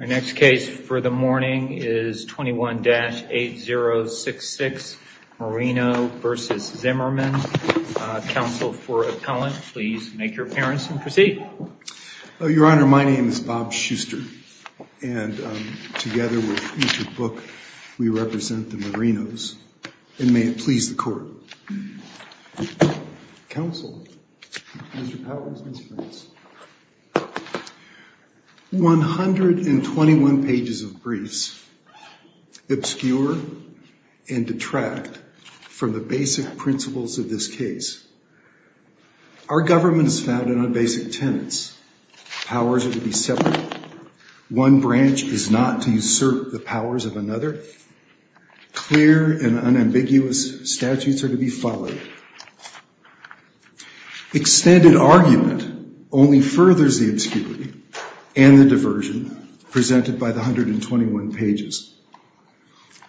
Our next case for the morning is 21-8066 Marino v. Zimmerman. Counsel for Appellant, please make your appearance and proceed. Your Honor, my name is Bob Schuster, and together with each book we represent the Marinos, and may it please the Court. Counsel, Mr. Powers, Ms. France, 121 pages of briefs obscure and detract from the basic principles of this case. Our government is founded on basic tenets. Powers are to be separate. One branch is not to usurp the powers of another. Clear and unambiguous statutes are to be followed. Extended argument only furthers the obscurity and the diversion presented by the 121 pages.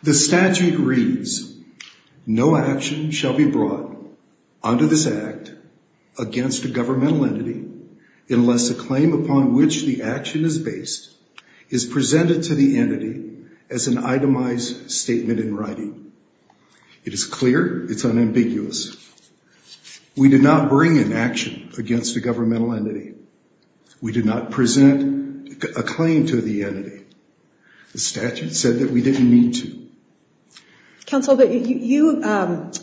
The statute reads, no action shall be brought under this Act against a governmental entity unless a claim upon which the action is based is presented to the entity as an itemized statement in writing. It is clear, it's unambiguous. We did not bring an action against a governmental entity. We did not present a claim to the entity. The statute said that we didn't need to. Counsel, but you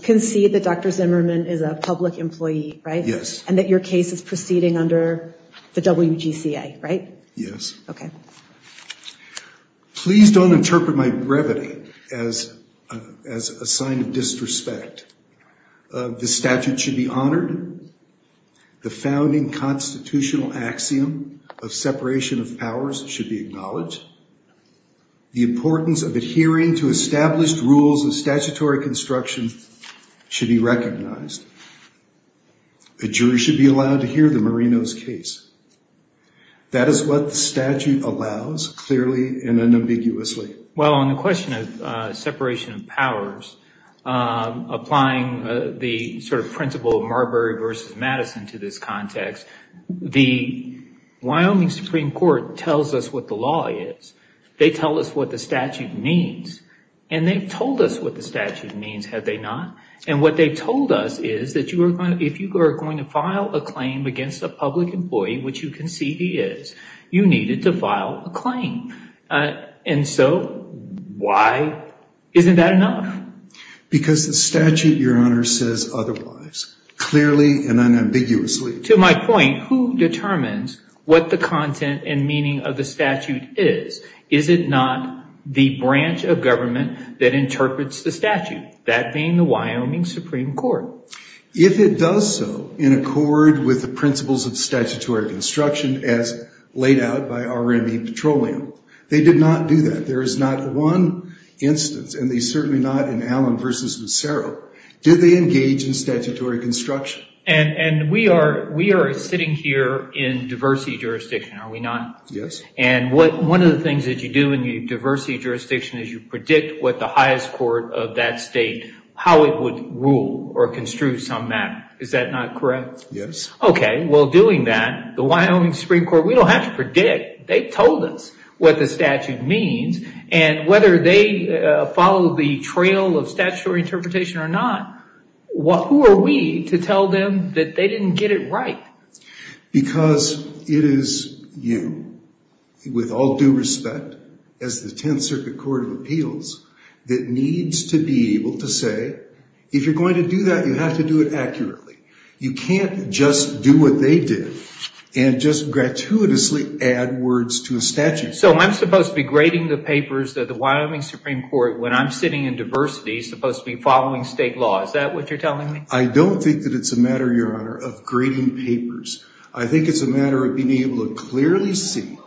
concede that Dr. Zimmerman is a public employee, right? Yes. And that your case is proceeding under the WGCA, right? Yes. Okay. Please don't interpret my brevity as a sign of disrespect. The statute should be honored. The founding constitutional axiom of separation of powers should be acknowledged. The importance of adhering to established rules of statutory construction should be recognized. The jury should be allowed to hear the Marino's case. That is what the statute allows clearly and unambiguously. Well, on the question of separation of powers, applying the sort of principle of Marbury versus Madison to this context, the Wyoming Supreme Court tells us what the law is. They tell us what the statute means. And they've told us what the statute means, have they not? And what they told us is that if you are going to file a claim against a public employee, which you concede he is, you needed to file a claim. And so why isn't that enough? Because the statute, your honor, says otherwise, clearly and unambiguously. To my point, who determines what the content and meaning of the statute is? Is it not the branch of government that interprets the statute? That being the Wyoming Supreme Court. If it does so in accord with the principles of statutory construction as laid out by RME Petroleum, they did not do that. There is not one instance, and certainly not in Allen versus Macero, did they engage in statutory construction? And we are sitting here in diversity jurisdiction, are we not? Yes. And one of the things that you do in the diversity jurisdiction is you predict what the highest court of that state, how it would rule or construe some matter. Is that not correct? Yes. Okay. Well, doing that, the Wyoming Supreme Court, we don't have to predict. They told us what the statute means. And whether they follow the trail of statutory interpretation or not, who are we to tell them that they didn't get it right? Because it is you, with all due respect, as the 10th Circuit Court of Appeals, that needs to be able to say, if you're going to do that, you have to do it accurately. You can't just do what they did and just gratuitously add words to a statute. So I'm supposed to be grading the papers that the Wyoming Supreme Court, when I'm sitting in diversity, supposed to be following state law. Is that what you're telling me? I don't think that it's a matter, Your Honor, of grading papers. I think it's a matter of being able to clearly see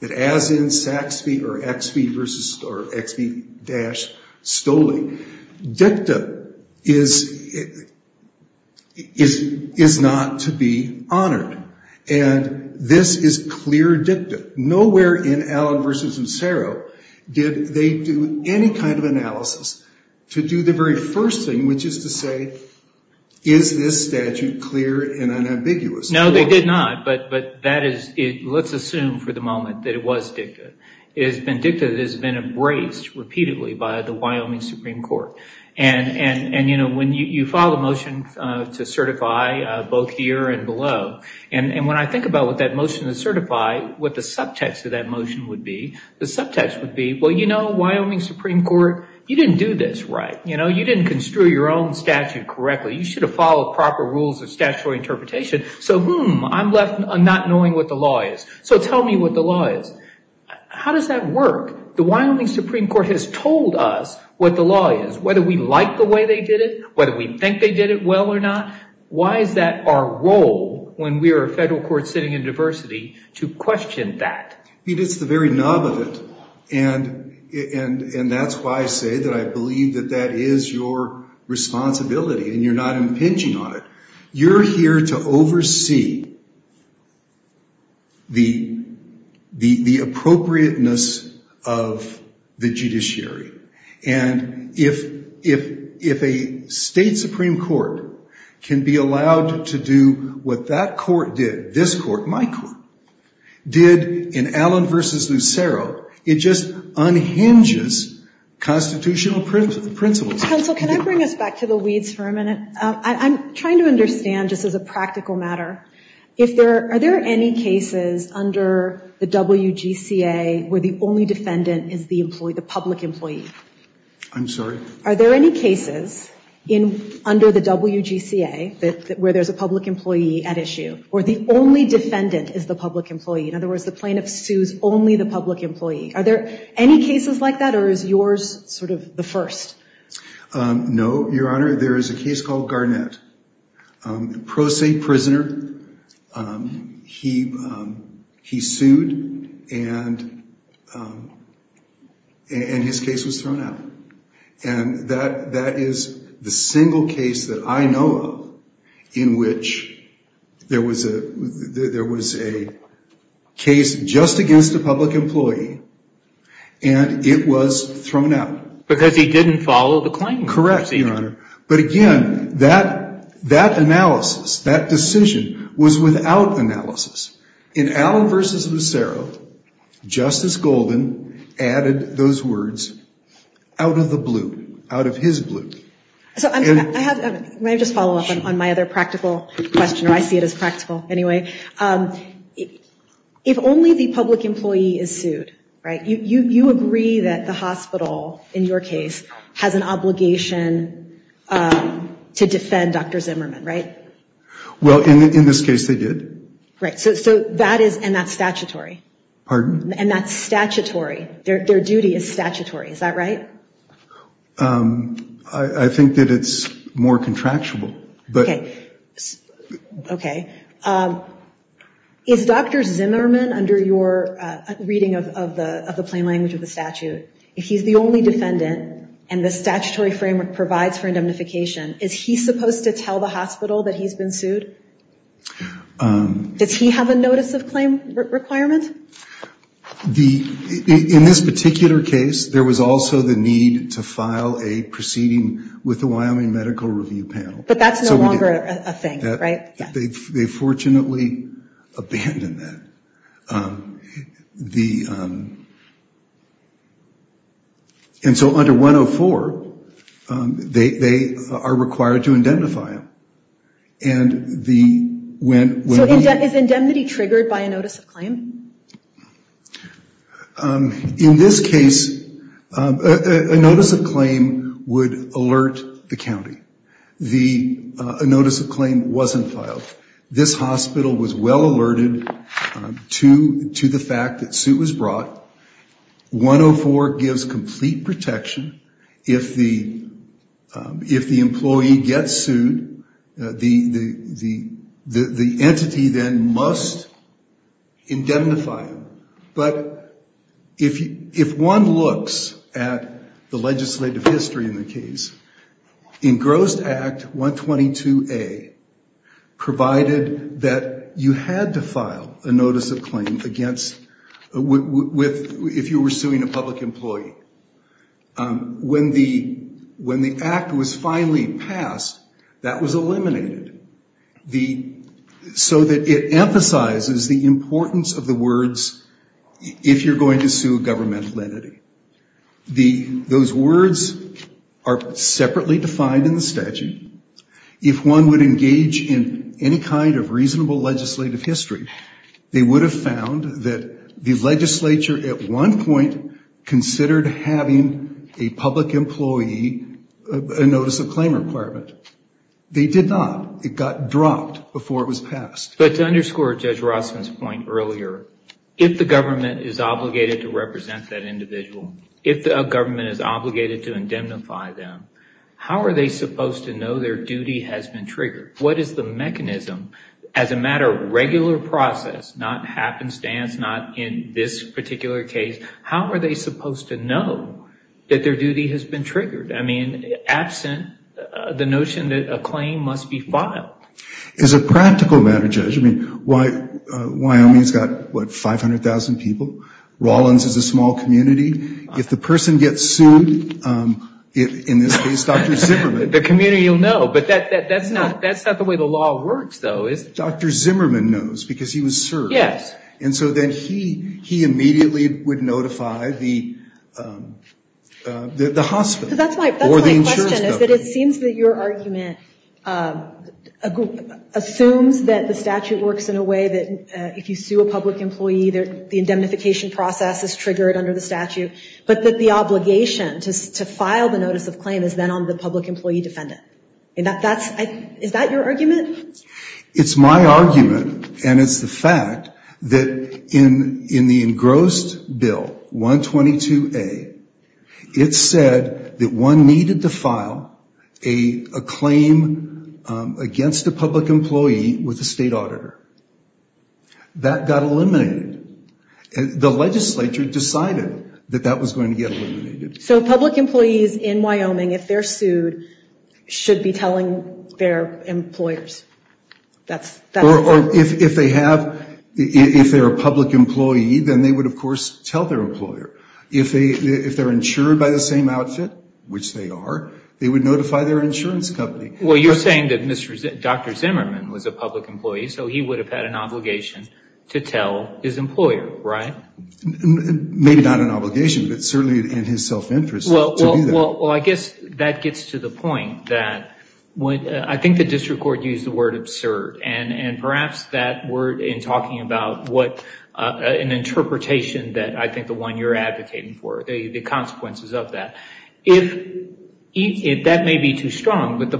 that as in Saxby or XB-Stoley, dicta is not to be honored. And this is clear dicta. Nowhere in Allen v. Nassero did they do any kind of analysis to do the very first thing, which is to say, is this statute clear and unambiguous? No, they did not. But that is, let's assume for the moment, that it was dicta. It has been dicta that has been embraced repeatedly by the Wyoming Supreme Court. And when you file a motion to certify both here and below, and when I think about what that motion to certify, what the subtext of that motion would be, the subtext would be, well, you know, Wyoming Supreme Court, you didn't do this right. You didn't construe your own statute correctly. You should have followed proper rules of statutory interpretation. So, hmm, I'm left not knowing what the law is. So tell me what the law is. How does that work? The Wyoming Supreme Court has told us what the law is, whether we like the way they did it, whether we think they did it well or not. Why is that our role when we are a federal court sitting in diversity to question that? I mean, it's the very nub of it. And that's why I say that I believe that that is your responsibility and you're not impinging on it. You're here to oversee the appropriateness of the judiciary. And if a state Supreme Court can be allowed to do what that court did, this court, my court, did in Allen v. Lucero, it just unhinges constitutional principles. Counsel, can I bring us back to the weeds for a minute? I'm trying to understand, just as a practical matter, if there, are there any cases under the WGCA where the only defendant is the public employee? I'm sorry? Are there any cases under the WGCA where there's a public employee at issue or the only defendant is the public employee? In other words, the plaintiff sues only the public employee. Are there any cases like that or is yours sort of the first? No, Your Honor. There is a case called Garnett. Pro se prisoner, he sued and his case was thrown out. And that is the single case that I know of in which there was a case just against a public employee and it was thrown out. Because he didn't follow the claim. Correct, Your Honor. But again, that analysis, that decision was without analysis. In Allen v. Macero, Justice Golden added those words out of the blue, out of his blue. So, I have, may I just follow up on my other practical question? I see it as practical anyway. If only the public employee is sued, right, you agree that the hospital, in your case, has an obligation to defend Dr. Zimmerman, right? Well, in this case they did. Right, so that is, and that's statutory. Pardon? And that's statutory. Their duty is statutory, is that right? I think that it's more contractual. Okay, okay. Is Dr. Zimmerman, under your reading of the plain language of the statute, if he's the only defendant and the statutory framework provides for indemnification, is he supposed to tell the hospital that he's been sued? Does he have a notice of claim requirement? In this particular case, there was also the need to file a proceeding with the Wyoming Medical Review Panel. But that's no longer a thing, right? They fortunately abandoned that. And so under 104, they are required to indemnify him. And the, when- So is indemnity triggered by a notice of claim? In this case, a notice of claim would alert the county. The notice of claim wasn't filed. This hospital was well alerted to the fact that suit was brought. 104 gives complete protection. If the employee gets sued, the entity then must indemnify him. But if one looks at the legislative history in the case, in Gross Act 122A, provided that you had to file a notice of claim against, with, if you were suing a public employee, when the, when the act was finally passed, that was eliminated. The, so that it emphasizes the importance of the words, if you're going to sue a governmental entity. The, those words are separately defined in the statute. If one would engage in any kind of reasonable legislative history, they would have found that the legislature at one point considered having a public employee, a notice of claim requirement. They did not. It got dropped before it was passed. But to underscore Judge Rossman's point earlier, if the government is obligated to represent that individual, if the government is obligated to indemnify them, how are they supposed to know their duty has been triggered? What is the mechanism, as a matter of regular process, not happenstance, not in this particular case, how are they supposed to know that their duty has been triggered? I mean, absent the notion that a claim must be filed. It's a practical matter, Judge. I mean, why, Wyoming's got what, 500,000 people? Rawlins is a small community. If the person gets sued, in this case, Dr. Zimmerman. The community will know. But that's not the way the law works, though, is it? Dr. Zimmerman knows because he was served. Yes. And so then he immediately would notify the hospital. That's my question, is that it seems that your argument assumes that the statute works in a way that if you sue a public employee, the indemnification process is triggered under the statute. But that the obligation to file the notice of claim is then on the public employee defendant. Is that your argument? It's my argument. And it's the fact that in the engrossed bill, 122A, it said that one needed to file a claim against a public employee with a state auditor. That got eliminated. The legislature decided that that was going to get eliminated. So public employees in Wyoming, if they're sued, should be telling their employers. If they're a public employee, then they would, of course, tell their employer. If they're insured by the same outfit, which they are, they would notify their insurance company. Well, you're saying that Dr. Zimmerman was a public employee, so he would have had an obligation to tell his employer, right? Maybe not an obligation, but certainly in his self-interest to do that. Well, I guess that gets to the point that I think the district court used the word absurd. And perhaps that word in talking about an interpretation that I think the one you're advocating for, the consequences of that. If that may be too strong, but the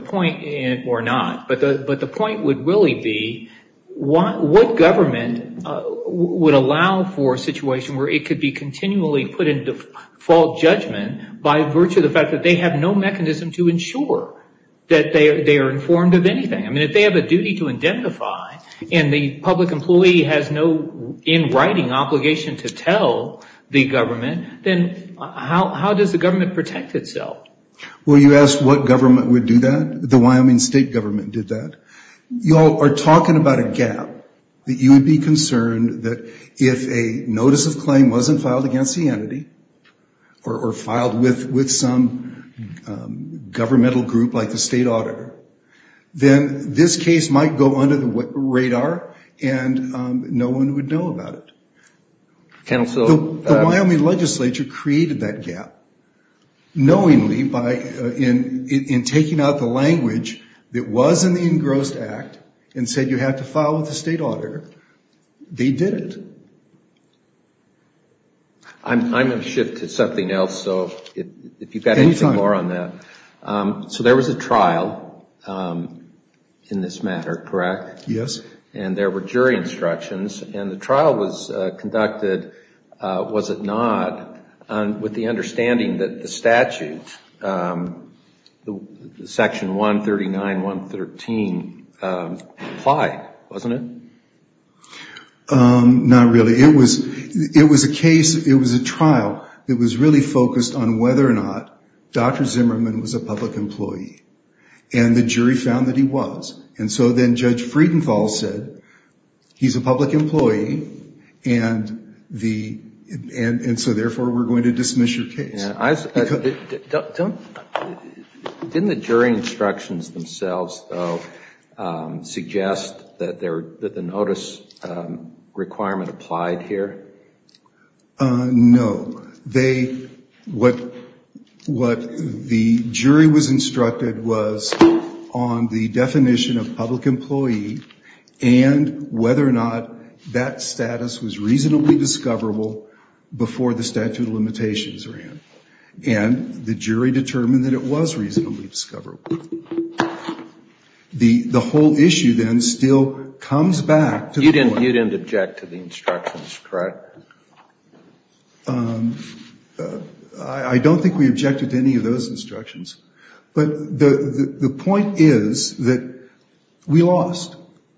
point would really be what government would allow for a situation where it could be continually put into fault judgment by virtue of the fact that they have no mechanism to ensure that they are informed of anything. I mean, if they have a duty to identify and the public employee has no in writing obligation to tell the government, then how does the government protect itself? Well, you asked what government would do that. The Wyoming state government did that. You all are talking about a gap that you would be concerned that if a notice of claim wasn't filed against the entity or filed with some governmental group like the state auditor, then this case might go under the radar and no one would know about it. The Wyoming legislature created that gap knowingly in taking out the language that was in the engrossed act and said you have to file with the state auditor. They did it. I'm going to shift to something else. So if you've got anything more on that. So there was a trial in this matter, correct? Yes. And there were jury instructions and the trial was conducted, was it not, with the understanding that the statute, section 139.113, applied, wasn't it? Not really. It was a case, it was a trial that was really focused on whether or not Dr. Zimmerman was a public employee and the jury found that he was. And so then Judge Friedenthal said he's a public employee and so therefore we're going to dismiss your case. Didn't the jury instructions themselves though suggest that the notice requirement applied here? No. What the jury was instructed was on the definition of public employee and whether or not that status was reasonably discoverable before the statute of limitations ran. And the jury determined that it was reasonably discoverable. The whole issue then still comes back to the... You didn't object to the instructions, correct? I don't think we objected to any of those instructions. But the point is that we lost.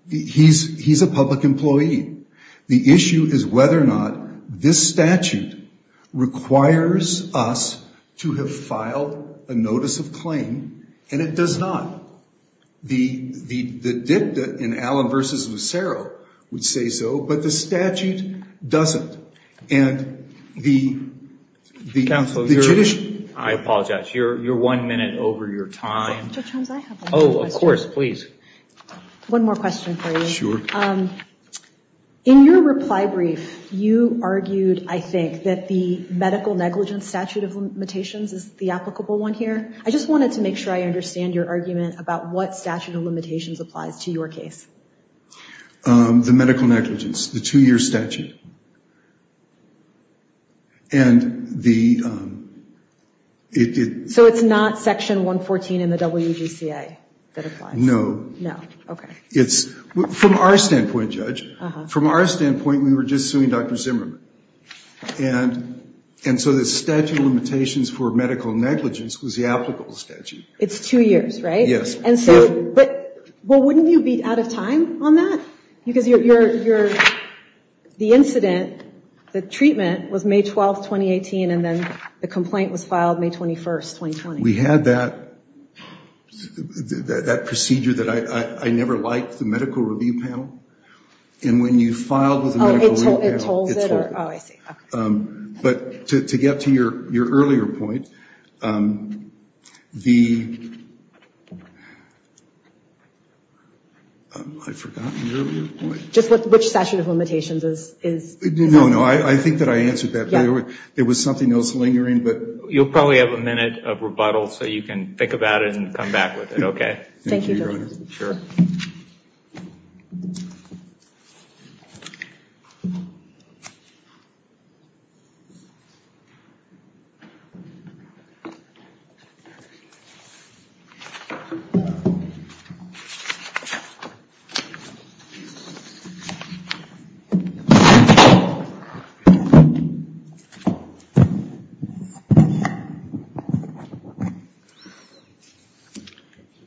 He's a public employee. The issue is whether or not this statute requires us to have filed a notice of claim and it does not. The dicta in Allen v. Lucero would say so, but the statute doesn't. And the... Counsel, I apologize. You're one minute over your time. Oh, of course, please. One more question for you. Sure. In your reply brief, you argued, I think, that the medical negligence statute of limitations is the applicable one here. I just wanted to make sure I understand your argument about what statute of limitations applies to your case. The medical negligence, the two-year statute. So it's not section 114 in the WGCA that applies? No. No. Okay. It's... From our standpoint, Judge, from our standpoint, we were just suing Dr. Zimmerman. And so the statute of limitations for medical negligence was the applicable statute. It's two years, right? Yes. And so... Because you're... The instance of the medical negligence statute of limitations the treatment was May 12th, 2018, and then the complaint was filed May 21st, 2020. We had that procedure that I never liked, the medical review panel. And when you filed with the medical review panel, it told me. Oh, I see, okay. But to get to your earlier point, the... I've forgotten the earlier point. Just which statute of limitations is... No, no. I think that I answered that. Yeah. There was something else lingering, but... You'll probably have a minute of rebuttal so you can think about it and come back with it, okay? Thank you, Your Honor. Sure.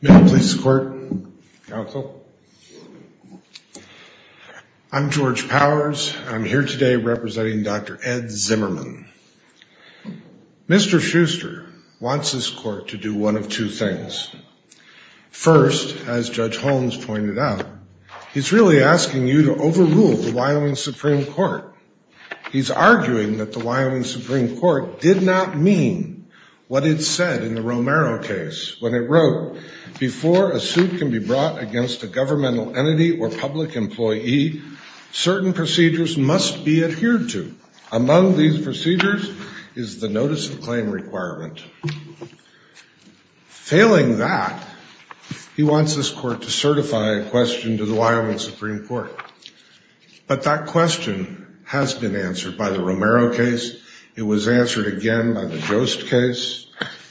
May I please escort counsel? I'm George Powers. I'm here today representing Dr. Ed Zimmerman. Mr. Schuster wants this court to do one of two things. First, as Judge Holmes pointed out, he's really asking you to overrule the Wyoming Supreme Court. He's arguing that the Wyoming Supreme Court did not mean what it said in the Romero case when it wrote, before a suit can be brought against a governmental entity or public employee, certain procedures must be adhered to. Among these procedures is the notice of claim requirement. Failing that, he wants this court to certify a question to the Wyoming Supreme Court. But that question has been answered by the Romero case. It was answered again by the Jost case.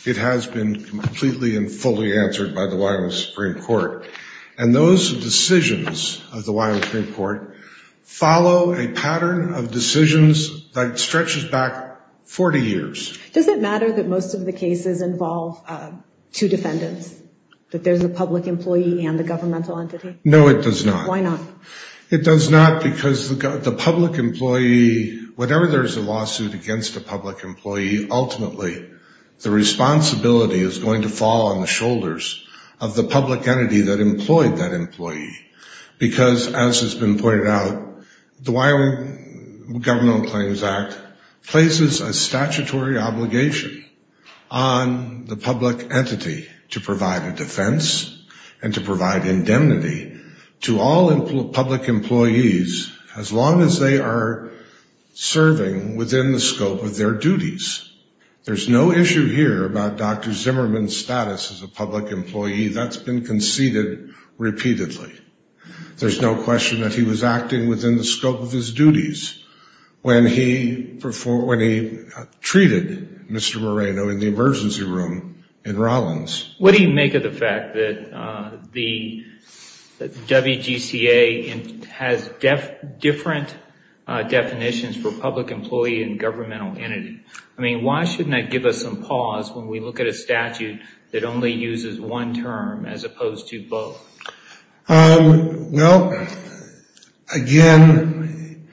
It has been completely and fully answered by the Wyoming Supreme Court. And those decisions of the Wyoming Supreme Court follow a pattern of decisions that stretches back 40 years. Does it matter that most of the cases involve two defendants? That there's a public employee and a governmental entity? No, it does not. Why not? It does not because the public employee, whenever there's a lawsuit against a public employee, ultimately, the responsibility is going to fall on the shoulders of the public entity that employed that employee. Because, as has been pointed out, the Wyoming Governmental Claims Act places a statutory obligation on the public entity to provide a defense and to provide indemnity to all public employees as long as they are serving within the scope of their duties. There's no issue here about Dr. Zimmerman's status as a public employee. That's been conceded repeatedly. There's no question that he was acting within the scope of his duties when he treated Mr. Moreno in the emergency room in Rollins. What do you make of the fact that the WGCA has different definitions for public employee and governmental entity? I mean, why shouldn't that give us some pause when we look at a statute that only uses one term as opposed to both? Well, again,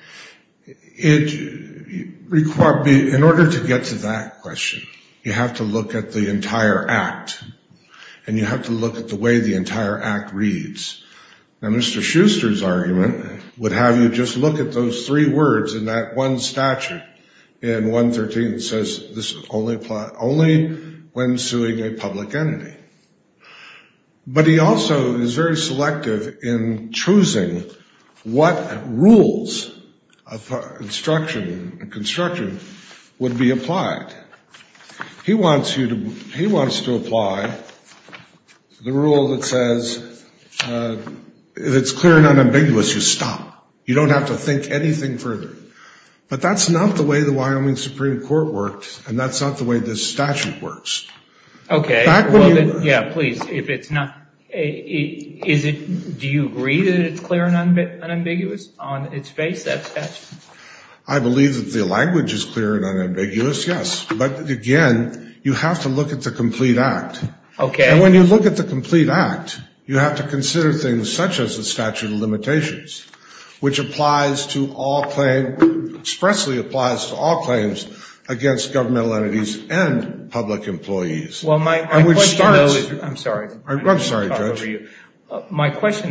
in order to get to that question, you have to look at the entire act, and you have to look at the way the entire act reads. Now, Mr. Schuster's argument would have you just look at those three words in that one statute, in 113, that says this only when suing a public entity. But he also is very selective in choosing what rules of construction would be applied. He wants to apply the rule that says, if it's clear and unambiguous, you stop. You don't have to think anything further. But that's not the way the Wyoming Supreme Court worked, and that's not the way this statute works. Okay. Yeah, please. Do you agree that it's clear and unambiguous on its face? I believe that the language is clear and unambiguous, yes. But again, you have to look at the complete act. And when you look at the complete act, you have to consider things such as the statute of limitations, which expressly applies to all claims against governmental entities and public employees. Well, my question,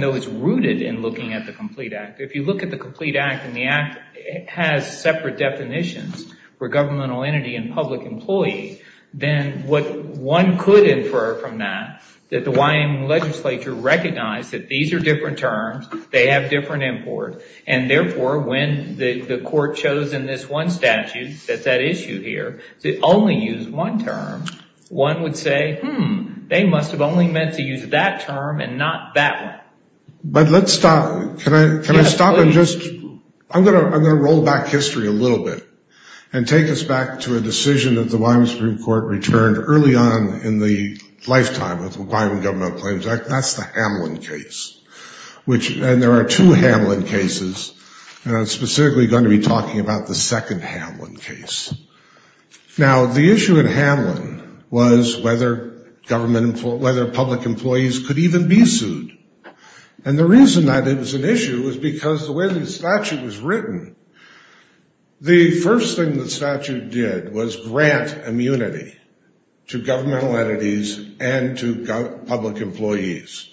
though, is rooted in looking at the complete act. If you look at the complete act, and the act has separate definitions for governmental entity and public employee, then what one could infer from that, that the Wyoming legislature recognized that these are different terms, they have different import, and therefore, when the court chose in this one statute that that issue here, to only use one term, one would say, hmm, they must have only meant to use that term and not that one. But let's stop. Can I stop and just, I'm going to roll back history a little bit and take us back to a decision that the Wyoming Supreme Court returned early on in the lifetime of the Wyoming Governmental Claims Act. That's the Hamlin case. Which, and there are two Hamlin cases, and I'm specifically going to be talking about the second Hamlin case. Now, the issue in Hamlin was whether government, whether public employees could even be sued. And the reason that it was an issue was because the way the statute was written, the first thing the statute did was grant immunity to governmental entities and to public employees.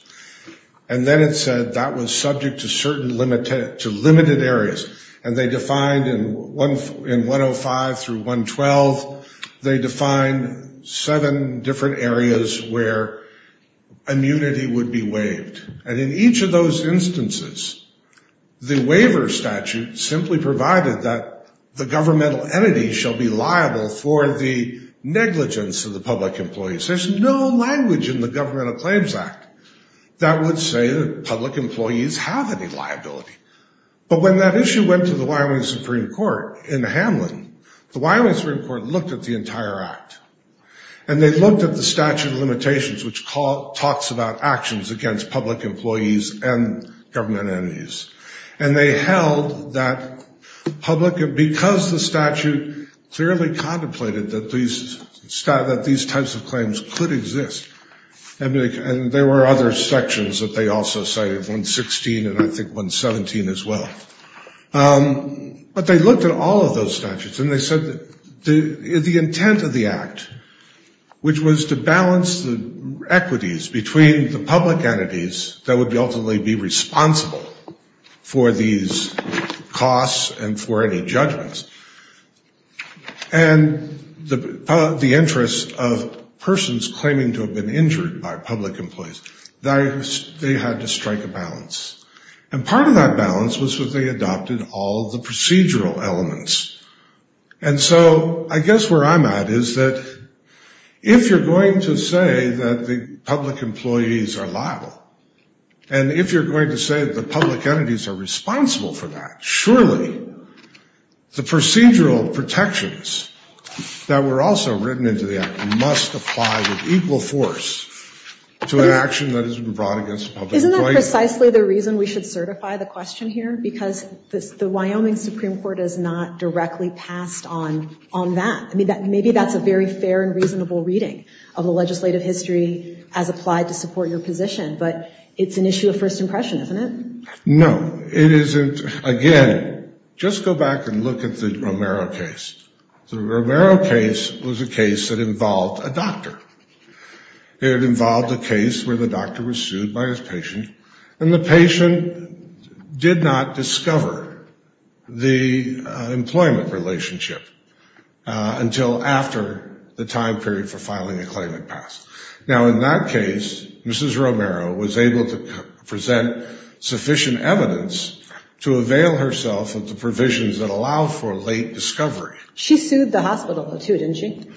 And then it said that was subject to certain limited, to limited areas. And they defined in 105 through 112, they defined seven different areas where immunity would be waived. And in each of those instances, the waiver statute simply provided that the governmental entity shall be liable for the negligence of the public employees. There's no language in the Governmental Claims Act that would say that public employees have any liability. But when that issue went to the Wyoming Supreme Court in Hamlin, the Wyoming Supreme Court looked at the entire act. And they looked at the statute of limitations, which talks about actions against public employees and government entities. And they held that public, because the statute clearly contemplated that these types of claims could exist. And there were other sections that they also cited, 116 and I think 117 as well. But they looked at all of those statutes. And they said that the intent of the act, which was to balance the equities between the public entities that would ultimately be responsible for these costs and for any claiming to have been injured by public employees, they had to strike a balance. And part of that balance was that they adopted all the procedural elements. And so I guess where I'm at is that if you're going to say that the public employees are liable, and if you're going to say that the public entities are responsible for that, equal force to an action that has been brought against public employees. Isn't that precisely the reason we should certify the question here? Because the Wyoming Supreme Court has not directly passed on that. I mean, maybe that's a very fair and reasonable reading of the legislative history as applied to support your position. But it's an issue of first impression, isn't it? No, it isn't. Again, just go back and look at the Romero case. The Romero case was a case that involved a doctor. It involved a case where the doctor was sued by his patient, and the patient did not discover the employment relationship until after the time period for filing a claim had passed. Now, in that case, Mrs. Romero was able to present sufficient evidence to avail herself of the provisions that allow for late discovery. She sued the hospital, too, didn't she?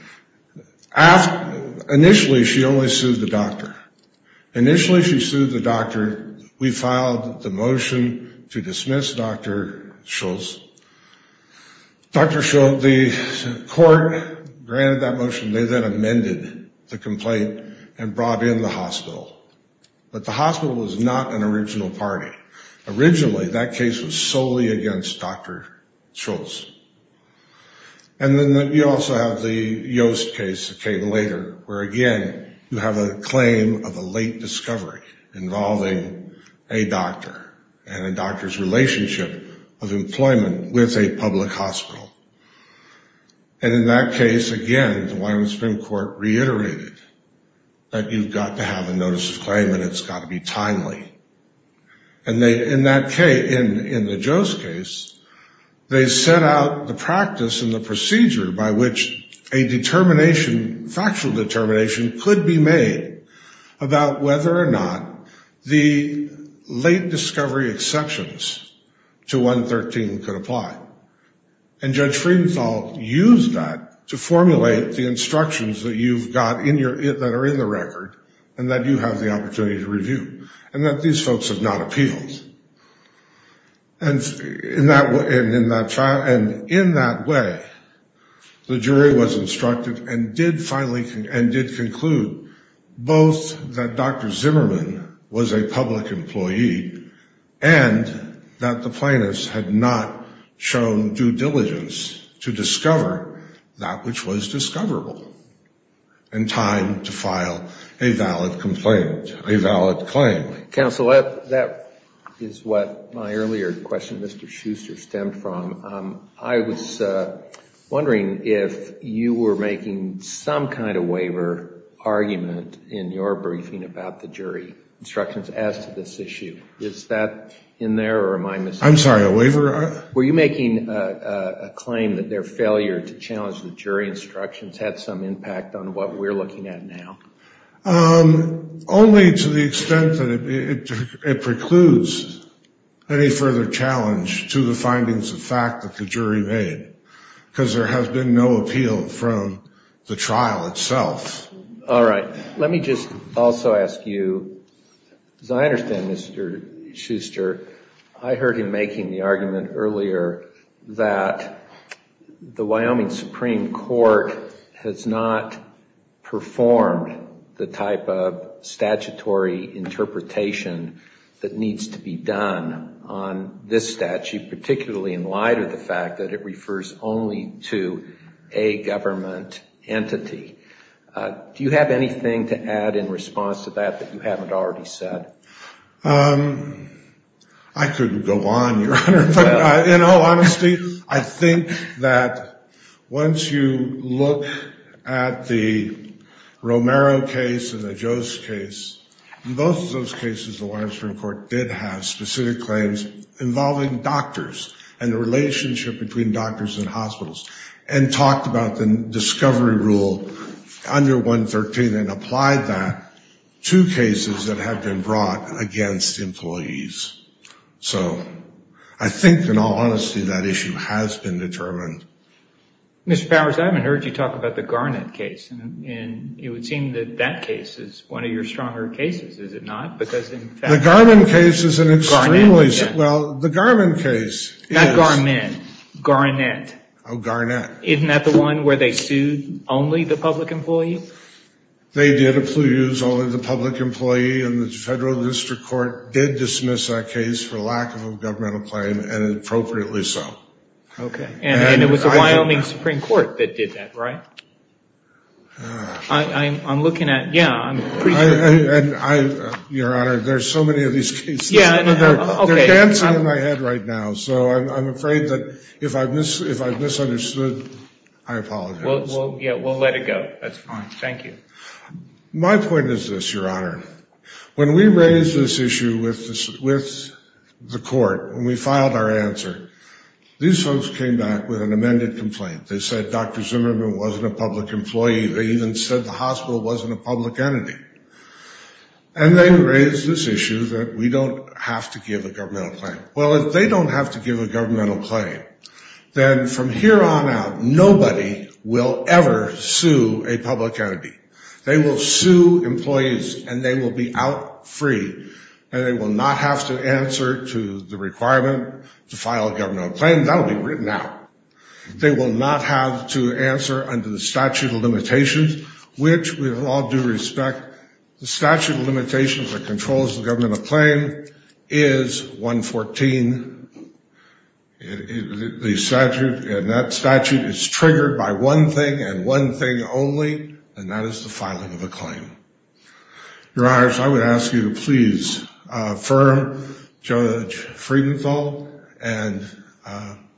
Initially, she only sued the doctor. Initially, she sued the doctor. We filed the motion to dismiss Dr. Schultz. Dr. Schultz, the court granted that motion. They then amended the complaint and brought in the hospital. But the hospital was not an original party. Originally, that case was solely against Dr. Schultz. And then you also have the Yost case that came later, where, again, you have a claim of a late discovery involving a doctor and a doctor's relationship of employment with a public hospital. And in that case, again, the Wyoming Supreme Court reiterated that you've got to have a notice of claim and it's got to be timely. And in that case, in the Yost case, they set out the practice and the procedure by which a determination, factual determination, could be made about whether or not the late discovery exceptions to 113 could apply. And Judge Friedenthal used that to formulate the instructions that you've got that are in the record and that you have the opportunity to review. And that these folks have not appealed. And in that way, the jury was instructed and did finally and did conclude both that Dr. Zimmerman was a public employee and that the plaintiffs had not shown due diligence to Counsel, that is what my earlier question, Mr. Schuster, stemmed from. I was wondering if you were making some kind of waiver argument in your briefing about the jury instructions as to this issue. Is that in there or am I mistaken? I'm sorry, a waiver? Were you making a claim that their failure to challenge the jury instructions had some impact on what we're looking at now? Only to the extent that it precludes any further challenge to the findings of fact that the jury made, because there has been no appeal from the trial itself. All right. Let me just also ask you, as I understand, Mr. Schuster, I heard him making the argument earlier that the Wyoming Supreme Court has not performed the type of statutory interpretation that needs to be done on this statute, particularly in light of the fact that it refers only to a government entity. Do you have anything to add in response to that, that you haven't already said? I couldn't go on, Your Honor. But in all honesty, I think that once you look at the Romero case and the Jost case, both of those cases, the Wyoming Supreme Court did have specific claims involving doctors and the relationship between doctors and hospitals, and talked about the discovery rule under 113, and applied that to cases that have been brought against employees. So I think, in all honesty, that issue has been determined. Mr. Powers, I haven't heard you talk about the Garnett case. And it would seem that that case is one of your stronger cases, is it not? Because in fact... The Garment case is an extremely... Well, the Garment case is... Not Garment, Garnett. Oh, Garnett. Isn't that the one where they sued only the public employee? They did accuse only the public employee, and the Federal District Court did dismiss that case for lack of a governmental claim, and appropriately so. Okay. And it was the Wyoming Supreme Court that did that, right? I'm looking at... Yeah. Your Honor, there's so many of these cases. Yeah, okay. They're dancing in my head right now. So I'm afraid that if I've misunderstood, I apologize. Well, yeah, we'll let it go. That's fine. Thank you. My point is this, Your Honor. When we raised this issue with the court, when we filed our answer, these folks came back with an amended complaint. They said Dr. Zimmerman wasn't a public employee. They even said the hospital wasn't a public entity. And they raised this issue that we don't have to give a governmental claim. Well, if they don't have to give a governmental claim, then from here on out, nobody will ever sue a public entity. They will sue employees, and they will be out free, and they will not have to answer to the requirement to file a governmental claim. That will be written out. They will not have to answer under the statute of limitations, which, with all due respect, the statute of limitations that controls the governmental claim is 114. The statute, and that statute is triggered by one thing and one thing only, and that is the filing of a claim. Your Honors, I would ask you to please affirm Judge Friedenthal, and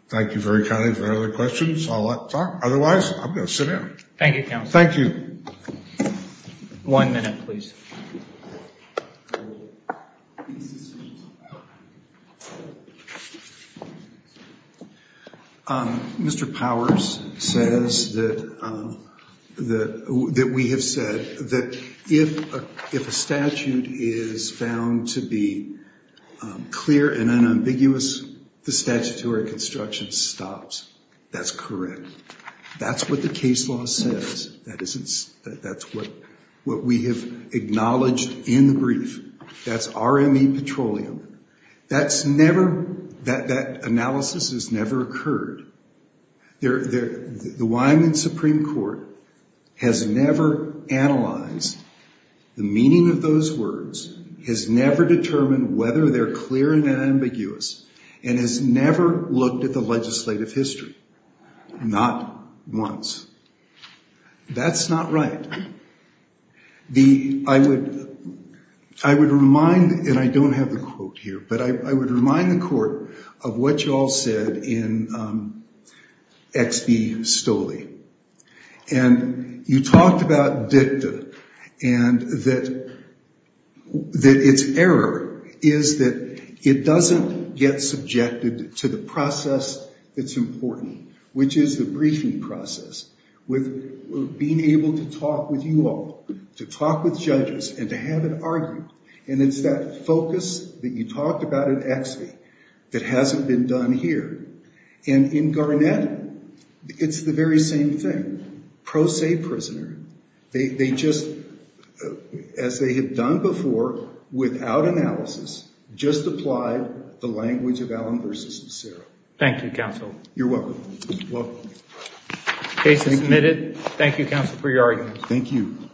thank you very kindly for the other questions. Otherwise, I'm going to sit down. Thank you, Counselor. Thank you. One minute, please. Mr. Powers says that we have said that if a statute is found to be clear and unambiguous, the statutory construction stops. That's correct. That's what the case law says. That's what we have acknowledged in the brief. That's RME Petroleum. That analysis has never occurred. The Wyoming Supreme Court has never analyzed the meaning of those words, has never determined whether they're clear and unambiguous, and has never looked at the legislative history. Not once. That's not right. I would remind, and I don't have the quote here, but I would remind the Court of what you all said in X.B. Stoley. You talked about dicta and that its error is that it doesn't get subjected to the process that's important, which is the briefing process. With being able to talk with you all, to talk with judges, and to have an argument, and it's that focus that you talked about in X.B. that hasn't been done here. And in Garnett, it's the very same thing. Pro se prisoner. They just, as they had done before, without analysis, just applied the language of Allen versus Cicero. Thank you, Counsel. You're welcome. Case is submitted. Thank you, Counsel, for your argument. Thank you.